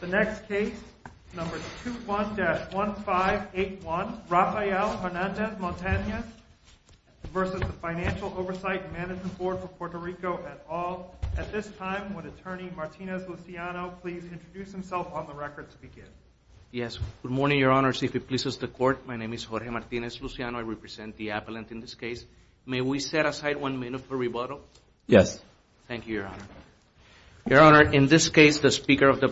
The next case, number 21-1581, Rafael Hernandez-Montanez v. The Financial Oversight and Management Board for Puerto Rico et al. At this time, would Attorney Martinez-Luciano please introduce himself on the record to begin? JORGE MARTINEZ-LUCIANO Yes. Good morning, Your Honors. If it pleases the Court, my name is Jorge Martinez-Luciano. I represent the appellant in this case. May we set aside one minute for rebuttal? JORGE MARTINEZ-LUCIANO Yes. JORGE MARTINEZ-LUCIANO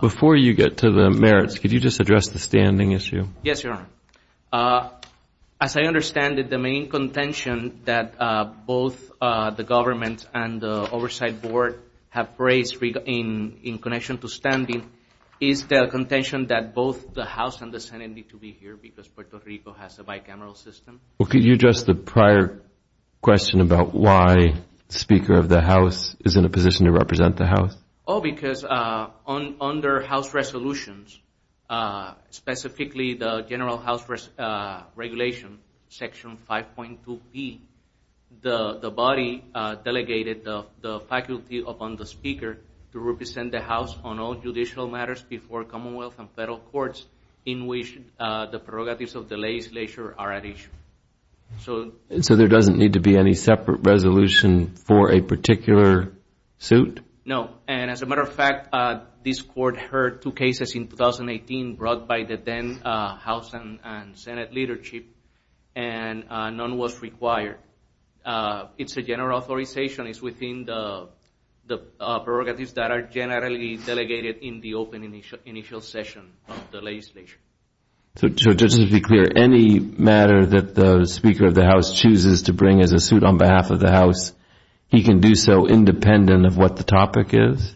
Before you get to the merits, could you just address the standing issue? JORGE MARTINEZ-LUCIANO Yes, Your Honor. As I understand it, the main contention that both the government and the oversight board have raised in connection to standing is the contention that both the House and the Senate need to be here because Puerto Rico has a bicameral system. JORGE MARTINEZ-LUCIANO Well, could you address the prior question about why the Speaker of the House is in a position to represent the House? JORGE MARTINEZ-LUCIANO Oh, because under House resolutions, specifically the general House regulation section 5.2B, the body delegated the faculty upon the Speaker to represent the House on all judicial matters before Commonwealth and federal courts in which the prerogatives of the legislature are at issue. JORGE MARTINEZ-LUCIANO So there doesn't need to be any separate resolution for a particular suit? chooses to bring as a suit on behalf of the House, he can do so independent of what the topic is?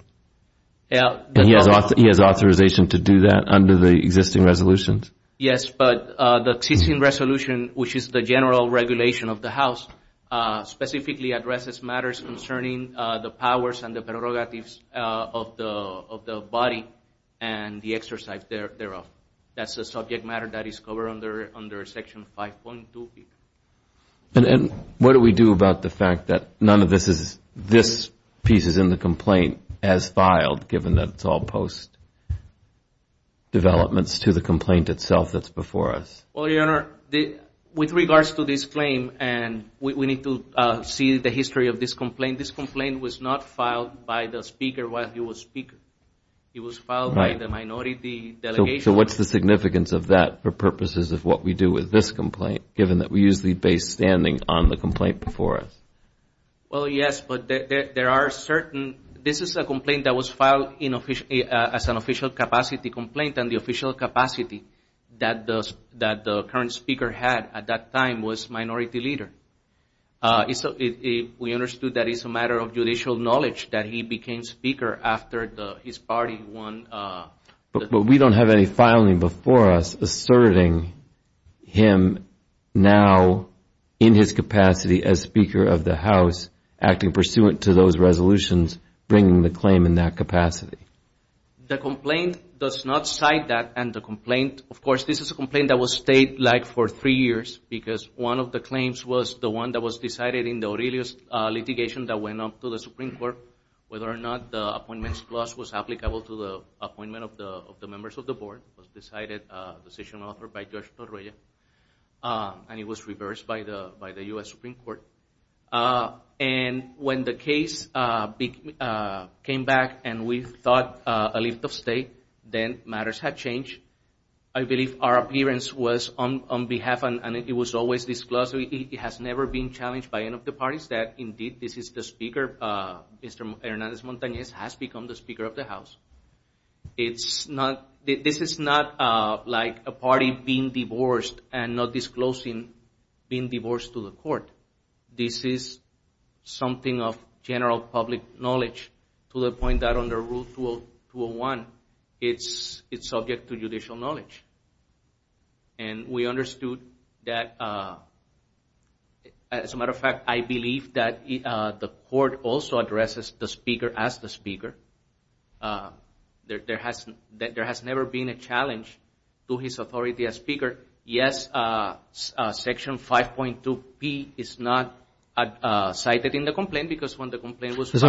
JORGE MARTINEZ-LUCIANO Yeah. JORGE MARTINEZ-LUCIANO And he has authorization to do that under the existing resolutions? JORGE MARTINEZ-LUCIANO Yes, but the existing resolution, which is the general regulation of the House, specifically addresses matters concerning the powers and the prerogatives of the body and the exercise thereof. That's a subject matter that is covered under Section 5.2B. JORGE MARTINEZ-LUCIANO And what do we do about the fact that none of this piece is in the complaint as filed, given that it's all post-developments to the complaint itself that's before us? JORGE MARTINEZ-LUCIANO Well, Your Honor, with regards to this claim, we need to see the history of this complaint. This complaint was not filed by the Speaker while he was Speaker. It was filed by the minority delegation. JORGE MARTINEZ-LUCIANO So what's the significance of that for purposes of what we do with this complaint, given that we use the base standing on the complaint before us? JORGE MARTINEZ-LUCIANO Well, yes, but there are certain – this is a complaint that was filed as an official capacity complaint, and the official capacity that the current Speaker had at that time was minority leader. We understood that it's a matter of judicial knowledge that he became Speaker after his party won. JORGE MARTINEZ-LUCIANO But we don't have any filing before us asserting him now in his capacity as Speaker of the House, acting pursuant to those resolutions, bringing the claim in that capacity. JORGE MARTINEZ-LUCIANO And it was reversed by the U.S. Supreme Court. And when the case came back and we thought a lift of state, then matters had changed. I believe our appearance was on behalf, and it was always disclosed. It has never been challenged by any of the parties that, indeed, this is the Speaker. Mr. Hernandez-Montanez has become the Speaker of the House. This is not like a party being divorced and not disclosing being divorced to the court. This is something of general public knowledge to the point that under Rule 201, it's subject to judicial knowledge. And we understood that, as a matter of fact, I believe that the court also addresses the Speaker as the Speaker. There has never been a challenge to his authority as Speaker. Yes, Section 5.2p is not cited in the complaint because when the complaint was filed—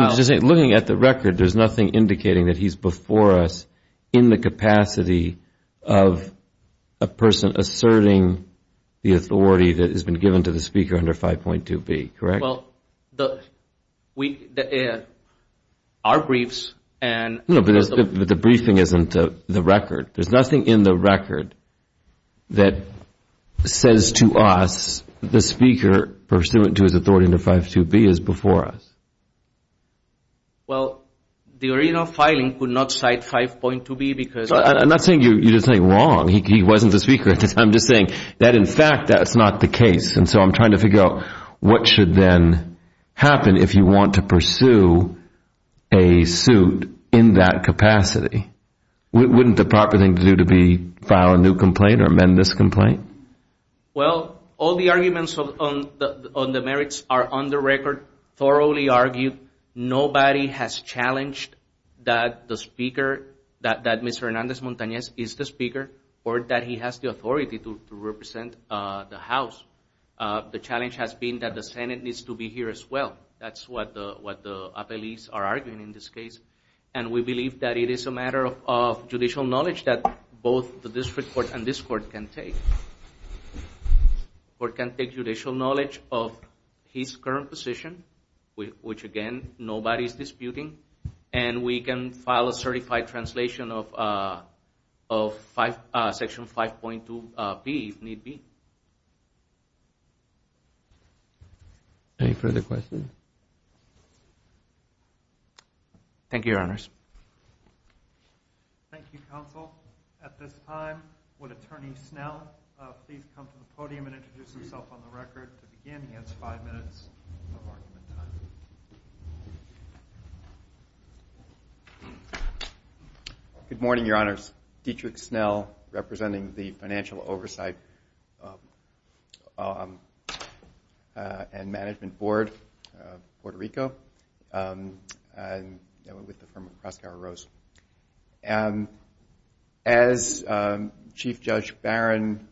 A person asserting the authority that has been given to the Speaker under 5.2b, correct? Well, our briefs and— No, but the briefing isn't the record. There's nothing in the record that says to us the Speaker, pursuant to his authority under 5.2b, is before us. Well, the original filing could not cite 5.2b because— I'm not saying you did something wrong. He wasn't the Speaker. I'm just saying that, in fact, that's not the case. And so I'm trying to figure out what should then happen if you want to pursue a suit in that capacity. Wouldn't the proper thing to do to file a new complaint or amend this complaint? Well, all the arguments on the merits are on the record, thoroughly argued. Nobody has challenged that the Speaker, that Mr. Hernandez-Montanez is the Speaker or that he has the authority to represent the House. The challenge has been that the Senate needs to be here as well. That's what the appellees are arguing in this case. And we believe that it is a matter of judicial knowledge that both the district court and this court can take. The court can take judicial knowledge of his current position, which, again, nobody is disputing, and we can file a certified translation of Section 5.2b, if need be. Any further questions? Thank you, Your Honors. Thank you, Counsel. At this time, would Attorney Snell please come to the podium and introduce himself on the record to begin? He has five minutes of argument time. My name is Dietrich Snell, representing the Financial Oversight and Management Board of Puerto Rico, and I'm with the firm of Crossgar and Rose. As Chief Judge Barron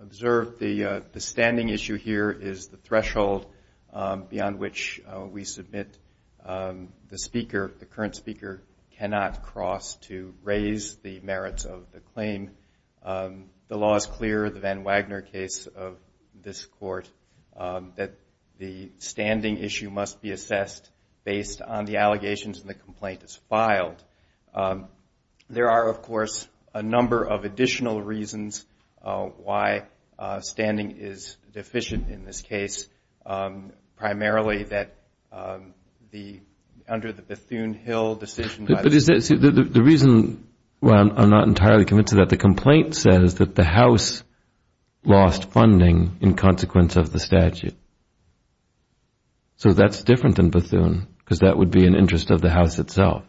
observed, the standing issue here is the threshold beyond which we submit the Speaker. The Speaker cannot cross to raise the merits of the claim. The law is clear, the Van Wagner case of this court, that the standing issue must be assessed based on the allegations and the complaint that's filed. There are, of course, a number of additional reasons why standing is deficient in this case, primarily under the Bethune-Hill decision. The reason why I'm not entirely convinced of that, the complaint says that the House lost funding in consequence of the statute. So that's different than Bethune, because that would be in interest of the House itself.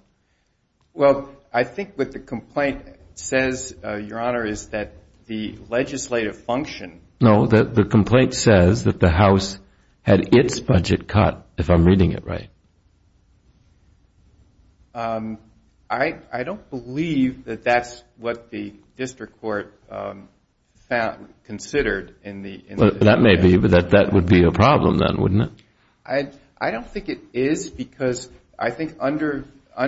Well, I think what the complaint says, Your Honor, is that the legislative function. No, the complaint says that the House had its budget cut, if I'm reading it right. I don't believe that that's what the district court considered. Well, that may be, but that would be a problem then, wouldn't it? I don't think it is, because I think under, I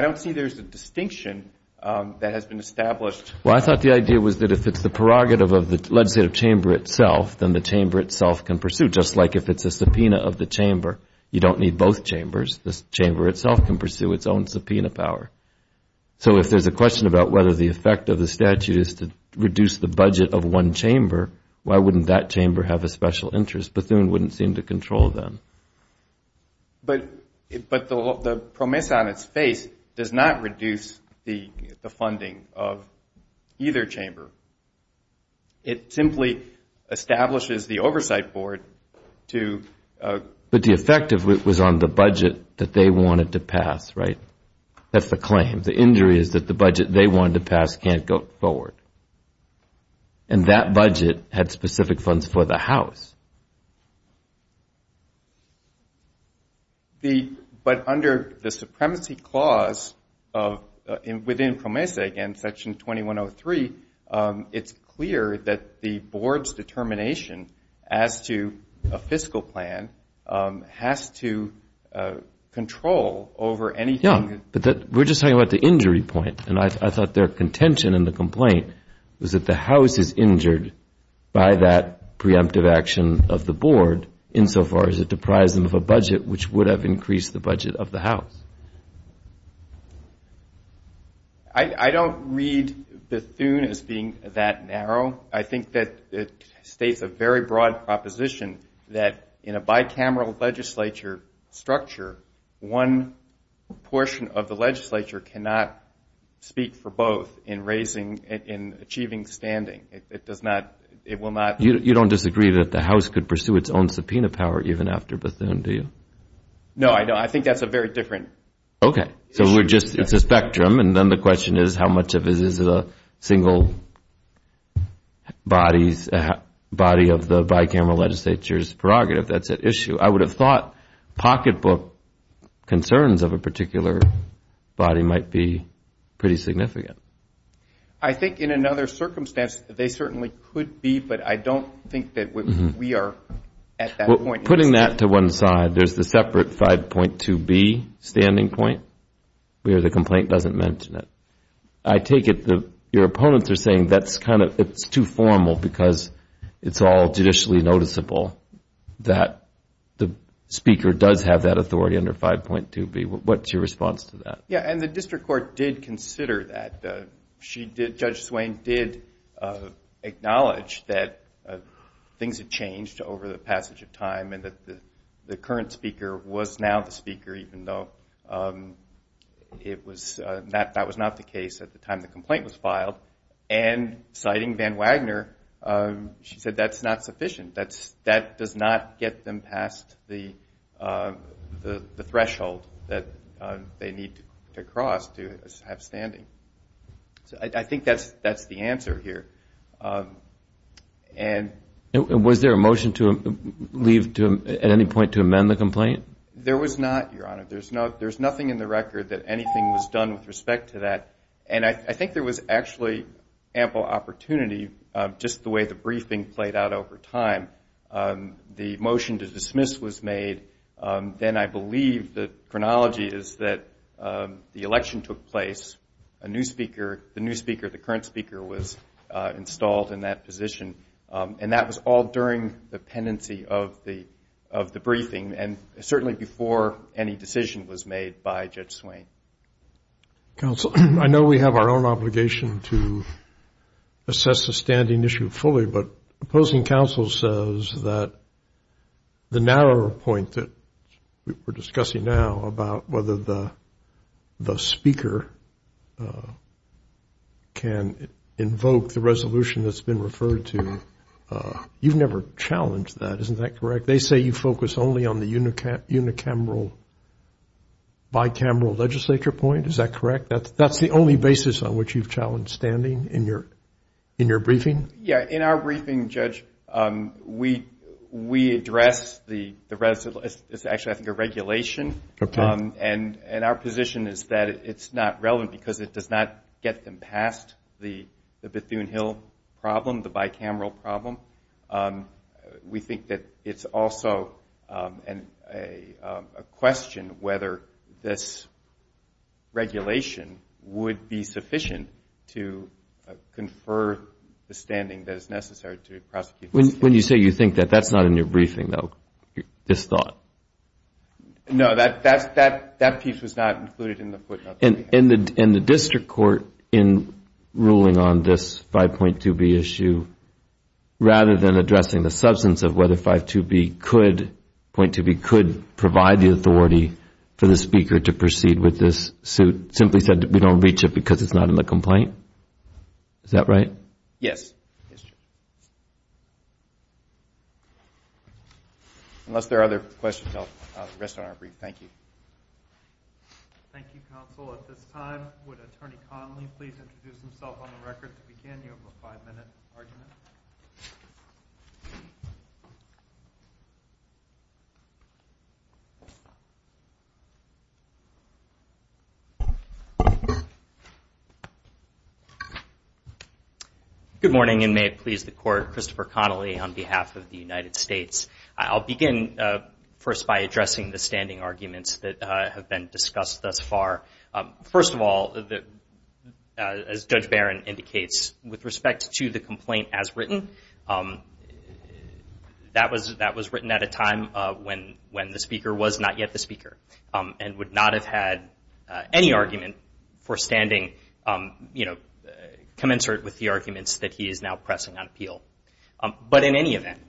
don't see there's a distinction that has been established. Well, I thought the idea was that if it's the prerogative of the legislative chamber itself, then the chamber itself can pursue, just like if it's a subpoena of the chamber. You don't need both chambers. The chamber itself can pursue its own subpoena power. So if there's a question about whether the effect of the statute is to reduce the budget of one chamber, why wouldn't that chamber have a special interest? Bethune wouldn't seem to control them. But the promise on its face does not reduce the funding of either chamber. It simply establishes the oversight board to But the effect was on the budget that they wanted to pass, right? That's the claim. The injury is that the budget they wanted to pass can't go forward. And that budget had specific funds for the House. But under the supremacy clause within PROMESA, again, Section 2103, it's clear that the board's determination as to a fiscal plan has to control over anything. Yeah, but we're just talking about the injury point. And I thought their contention in the complaint was that the House is injured by that preemptive action of the board insofar as it deprives them of a budget which would have increased the budget of the House. I don't read Bethune as being that narrow. I think that it states a very broad proposition that in a bicameral legislature structure, one portion of the legislature cannot speak for both in achieving standing. It does not, it will not. You don't disagree that the House could pursue its own subpoena power even after Bethune, do you? No, I don't. I think that's a very different issue. Okay. So we're just, it's a spectrum. And then the question is how much of it is a single body of the bicameral legislature's prerogative. That's an issue. I would have thought pocketbook concerns of a particular body might be pretty significant. I think in another circumstance they certainly could be, but I don't think that we are at that point. Putting that to one side, there's the separate 5.2B standing point where the complaint doesn't mention it. I take it your opponents are saying that's kind of, it's too formal because it's all judicially noticeable that the speaker does have that authority under 5.2B. What's your response to that? Yeah, and the district court did consider that. Judge Swain did acknowledge that things had changed over the passage of time and that the current speaker was now the speaker even though that was not the case at the time the complaint was filed. And citing Van Wagner, she said that's not sufficient. That does not get them past the threshold that they need to cross to have standing. So I think that's the answer here. And was there a motion to leave at any point to amend the complaint? There was not, Your Honor. There's nothing in the record that anything was done with respect to that. And I think there was actually ample opportunity just the way the briefing played out over time. The motion to dismiss was made. Then I believe the chronology is that the election took place, the new speaker, the current speaker was installed in that position, and that was all during the pendency of the briefing and certainly before any decision was made by Judge Swain. Counsel, I know we have our own obligation to assess the standing issue fully, but opposing counsel says that the narrow point that we're discussing now about whether the speaker can invoke the resolution that's been referred to, you've never challenged that. Isn't that correct? They say you focus only on the unicameral, bicameral legislature point. Is that correct? That's the only basis on which you've challenged standing in your briefing? Yeah. In our briefing, Judge, we address the resolution. It's actually, I think, a regulation. And our position is that it's not relevant because it does not get them past the Bethune-Hill problem, the bicameral problem. We think that it's also a question whether this regulation would be sufficient to confer the standing that is necessary to prosecute. When you say you think that, that's not in your briefing, though, this thought? No, that piece was not included in the footnote. In the district court, in ruling on this 5.2b issue, rather than addressing the substance of whether 5.2b could provide the authority for the speaker to proceed with this suit, simply said we don't reach it because it's not in the complaint? Is that right? Yes. Unless there are other questions, I'll rest on our brief. Thank you. Thank you, counsel. At this time, would Attorney Connolly please introduce himself on the record to begin? You have a five-minute argument. Good morning, and may it please the Court, Christopher Connolly on behalf of the United States. I'll begin first by addressing the standing arguments that have been discussed thus far. First of all, as Judge Barron indicates, with respect to the complaint as written, that was written at a time when the speaker was not yet the speaker and would not have had any argument for standing commensurate with the arguments that he is now pressing on appeal. But in any event,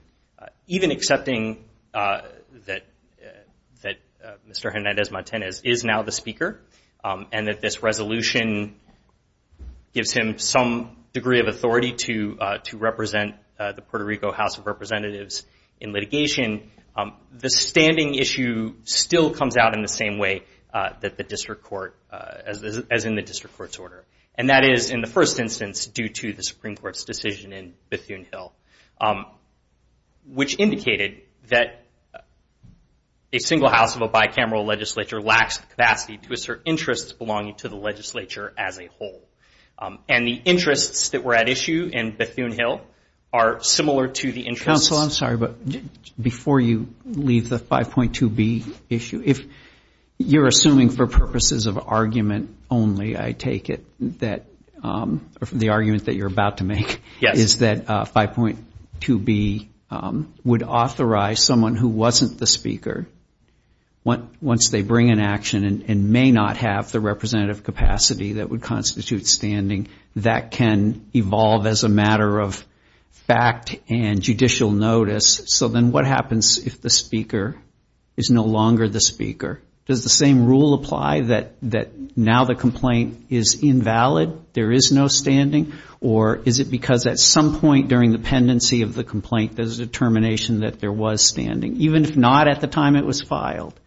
even accepting that Mr. Hernandez-Martinez is now the speaker and that this resolution gives him some degree of authority to represent the Puerto Rico House of Representatives in litigation, the standing issue still comes out in the same way as in the district court's order. And that is, in the first instance, due to the Supreme Court's decision in Bethune-Hill, which indicated that a single house of a bicameral legislature lacks the capacity to assert interests belonging to the legislature as a whole. And the interests that were at issue in Bethune-Hill are similar to the interests— Counsel, I'm sorry, but before you leave the 5.2b issue, if you're assuming for purposes of argument only, I take it that the argument that you're about to make is that 5.2b would authorize someone who wasn't the speaker, once they bring an action and may not have the representative capacity that would constitute standing, that can evolve as a matter of fact and judicial notice. So then what happens if the speaker is no longer the speaker? Does the same rule apply that now the complaint is invalid, there is no standing, or is it because at some point during the pendency of the complaint there's a determination that there was standing? Even if not at the time it was filed,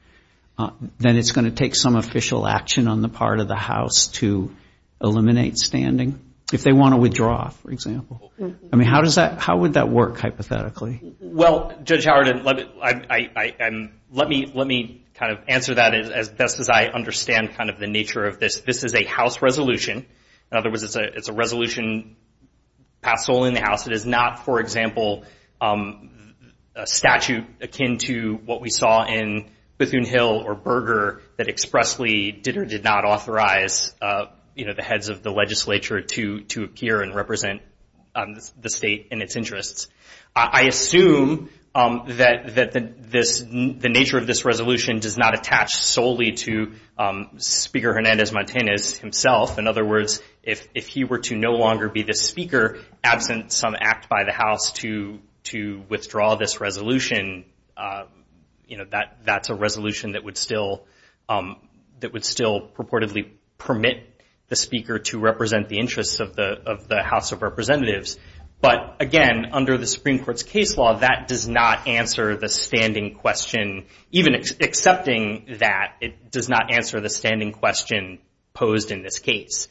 then it's going to take some official action on the part of the House to eliminate standing, if they want to withdraw, for example. I mean, how would that work, hypothetically? Well, Judge Howard, let me kind of answer that as best as I understand kind of the nature of this. This is a House resolution. In other words, it's a resolution passed solely in the House. It is not, for example, a statute akin to what we saw in Bethune-Hill or Berger that expressly did or did not authorize, you know, the heads of the legislature to appear and represent the State and its interests. I assume that the nature of this resolution does not attach solely to Speaker Hernandez-Martinez himself. In other words, if he were to no longer be the speaker, absent some act by the House to withdraw this resolution, you know, that's a resolution that would still purportedly permit the speaker to represent the interests of the House of Representatives. But, again, under the Supreme Court's case law, that does not answer the standing question, even accepting that it does not answer the standing question posed in this case,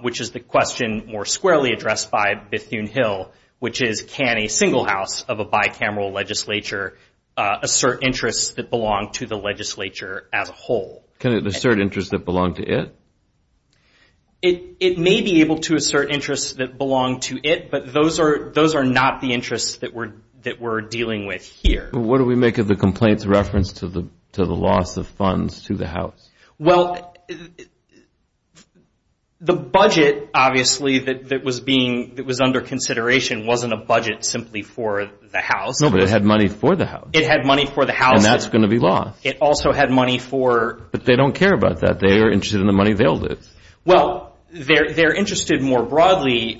which is the question more squarely addressed by Bethune-Hill, which is can a single House of a bicameral legislature assert interests that belong to the legislature as a whole? Can it assert interests that belong to it? It may be able to assert interests that belong to it, but those are not the interests that we're dealing with here. What do we make of the complaint's reference to the loss of funds to the House? Well, the budget, obviously, that was being, that was under consideration wasn't a budget simply for the House. No, but it had money for the House. It had money for the House. And that's going to be lost. It also had money for... But they don't care about that. They are interested in the money they'll lose. Well, they're interested more broadly...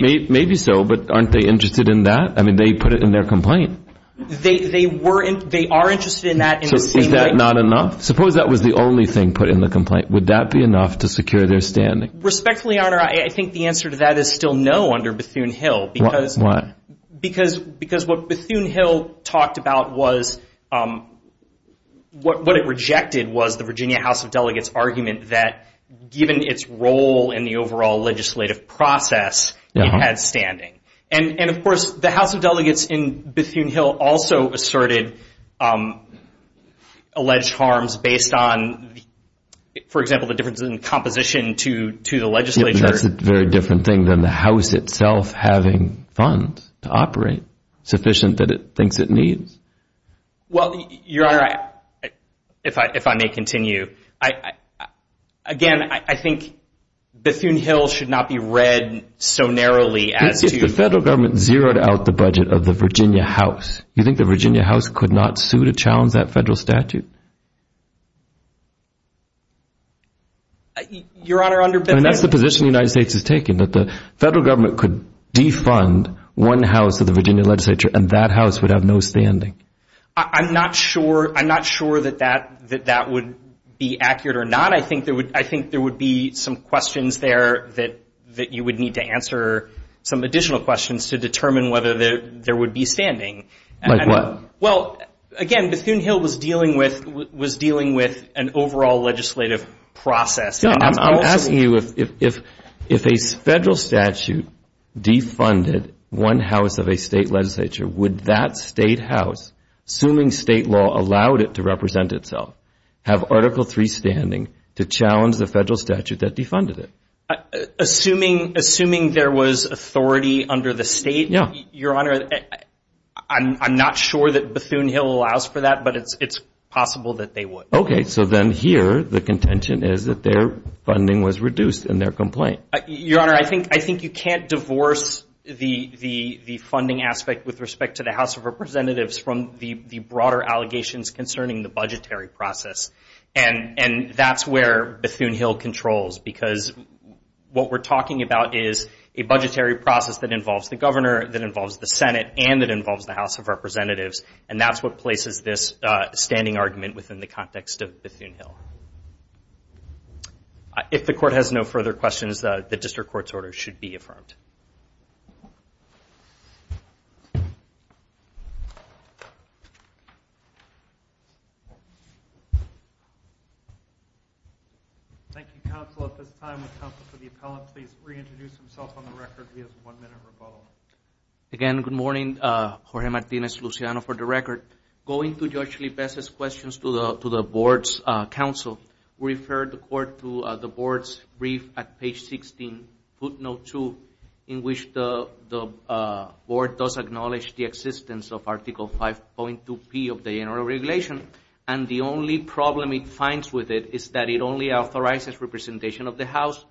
Maybe so, but aren't they interested in that? I mean, they put it in their complaint. They were, they are interested in that in the same way... So is that not enough? Suppose that was the only thing put in the complaint. Would that be enough to secure their standing? Respectfully, Your Honor, I think the answer to that is still no under Bethune-Hill. Why? Because what Bethune-Hill talked about was, what it rejected was the Virginia House of Delegates' argument that given its role in the overall legislative process, it had standing. And, of course, the House of Delegates in Bethune-Hill also asserted alleged harms based on, for example, the difference in composition to the legislature. I mean, that's a very different thing than the House itself having funds to operate sufficient that it thinks it needs. Well, Your Honor, if I may continue, again, I think Bethune-Hill should not be read so narrowly as to... If the federal government zeroed out the budget of the Virginia House, do you think the Virginia House could not sue to challenge that federal statute? I mean, that's the position the United States has taken, that the federal government could defund one house of the Virginia legislature, and that house would have no standing. I'm not sure that that would be accurate or not. I think there would be some questions there that you would need to answer, some additional questions to determine whether there would be standing. Like what? Well, again, Bethune-Hill was dealing with an overall legislative process. I'm asking you if a federal statute defunded one house of a state legislature, would that state house, assuming state law allowed it to represent itself, have Article III standing to challenge the federal statute that defunded it? Assuming there was authority under the state, Your Honor, I'm not sure that Bethune-Hill allows for that, but it's possible that they would. Okay, so then here the contention is that their funding was reduced in their complaint. Your Honor, I think you can't divorce the funding aspect with respect to the House of Representatives from the broader allegations concerning the budgetary process, and that's where Bethune-Hill controls, because what we're talking about is a budgetary process that involves the governor, that involves the Senate, and that involves the House of Representatives, and that's what places this standing argument within the context of Bethune-Hill. If the Court has no further questions, the District Court's order should be affirmed. Thank you, Counsel. At this time, would Counsel for the Appellant please reintroduce himself on the record? He has one minute rebuttal. Again, good morning. Jorge Martinez-Luciano for the record. Going to Judge Lipez's questions to the Board's counsel, we refer the Court to the Board's brief at page 16, footnote 2, in which the Board does acknowledge the existence of Article 5.2P of the General Regulation, and the only problem it finds with it is that it only authorizes representation of the House,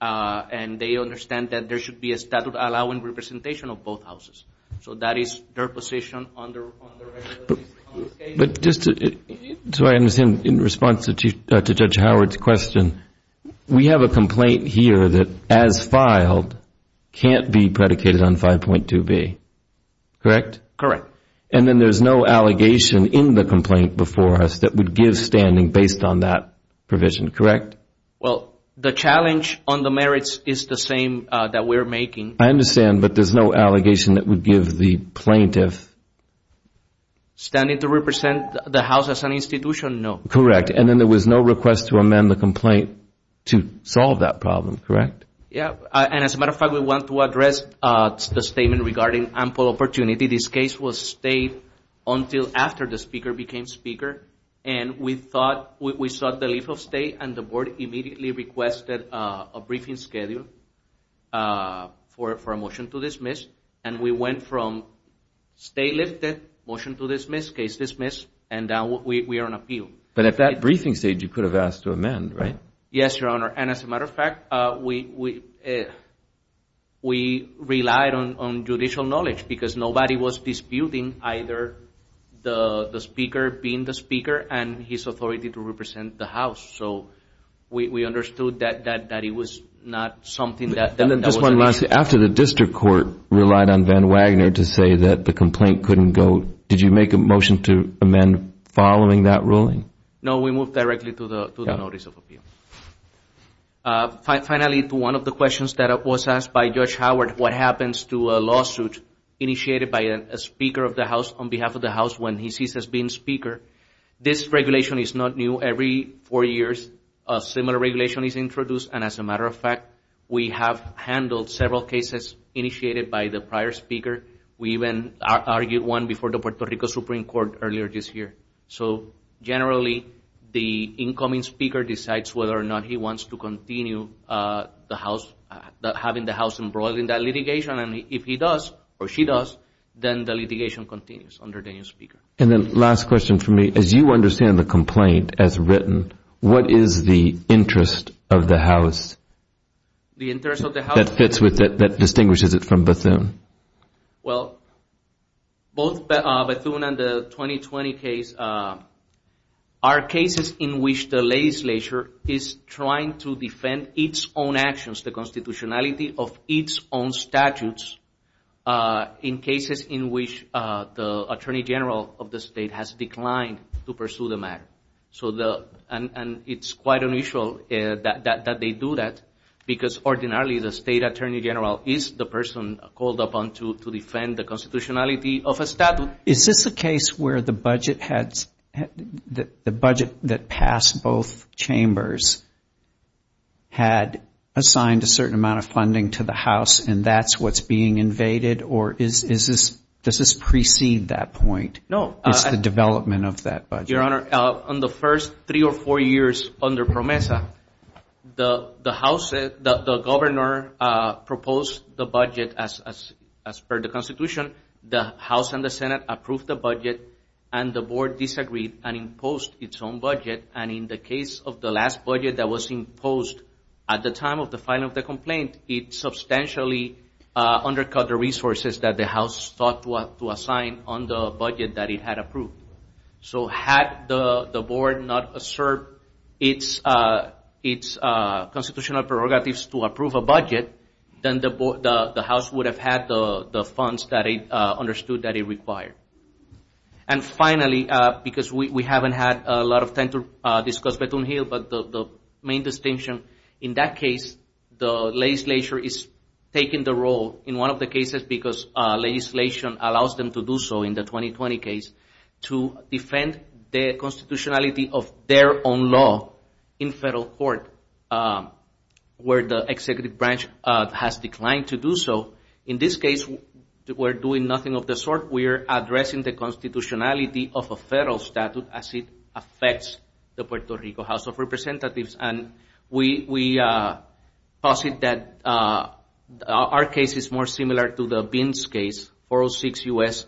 and they understand that there should be a statute allowing representation of both Houses. So that is their position on the regulations. But just so I understand, in response to Judge Howard's question, we have a complaint here that, as filed, can't be predicated on 5.2B, correct? Correct. And then there's no allegation in the complaint before us that would give standing based on that provision, correct? Correct. Well, the challenge on the merits is the same that we're making. I understand, but there's no allegation that would give the plaintiff. Standing to represent the House as an institution, no. Correct. And then there was no request to amend the complaint to solve that problem, correct? Yes. And as a matter of fact, we want to address the statement regarding ample opportunity. This case was stayed until after the Speaker became Speaker, and we sought the leave of stay, and the Board immediately requested a briefing schedule for a motion to dismiss. And we went from stay lifted, motion to dismiss, case dismissed, and now we are on appeal. But at that briefing stage, you could have asked to amend, right? Yes, Your Honor. And as a matter of fact, we relied on judicial knowledge because nobody was disputing either the Speaker being the Speaker and his authority to represent the House. So we understood that it was not something that was an issue. And then just one last thing. After the district court relied on Van Wagner to say that the complaint couldn't go, did you make a motion to amend following that ruling? No, we moved directly to the notice of appeal. Finally, to one of the questions that was asked by Judge Howard, what happens to a lawsuit initiated by a Speaker of the House on behalf of the House when he ceases being Speaker? This regulation is not new. Every four years, a similar regulation is introduced. And as a matter of fact, we have handled several cases initiated by the prior Speaker. We even argued one before the Puerto Rico Supreme Court earlier this year. So generally, the incoming Speaker decides whether or not he wants to continue the House, having the House embroiled in that litigation. And if he does or she does, then the litigation continues under the new Speaker. And then last question for me. As you understand the complaint as written, what is the interest of the House that fits with it, that distinguishes it from Bethune? Well, both Bethune and the 2020 case are cases in which the legislature is trying to defend its own actions, the constitutionality of its own statutes, in cases in which the Attorney General of the state has declined to pursue the matter. And it's quite unusual that they do that because ordinarily the State Attorney General is the person called upon to defend the constitutionality of a statute. Is this a case where the budget that passed both chambers had assigned a certain amount of funding to the House and that's what's being invaded, or does this precede that point? No. It's the development of that budget. Your Honor, on the first three or four years under PROMESA, the Governor proposed the budget as per the constitution. The House and the Senate approved the budget and the Board disagreed and imposed its own budget. And in the case of the last budget that was imposed at the time of the filing of the complaint, it substantially undercut the resources that the House thought to assign on the budget that it had approved. So had the Board not asserted its constitutional prerogatives to approve a budget, then the House would have had the funds that it understood that it required. And finally, because we haven't had a lot of time to discuss Bethune-Hill, but the main distinction in that case, the legislature is taking the role in one of the cases because legislation allows them to do so in the 2020 case to defend the constitutionality of their own law in federal court where the executive branch has declined to do so. In this case, we're doing nothing of the sort. We're addressing the constitutionality of a federal statute as it affects the Puerto Rico House of Representatives. And we posit that our case is more similar to the Binns case, 406 U.S.,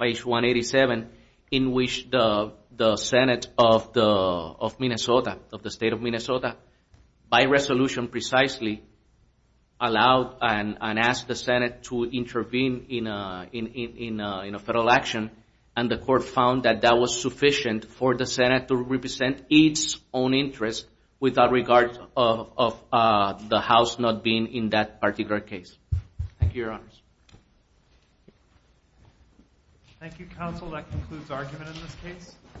page 187, in which the Senate of Minnesota, of the state of Minnesota, by resolution precisely, allowed and asked the Senate to intervene in a federal action. And the court found that that was sufficient for the Senate to represent its own interest without regard of the House not being in that particular case. Thank you, Your Honors. Thank you, Counsel. That concludes argument in this case.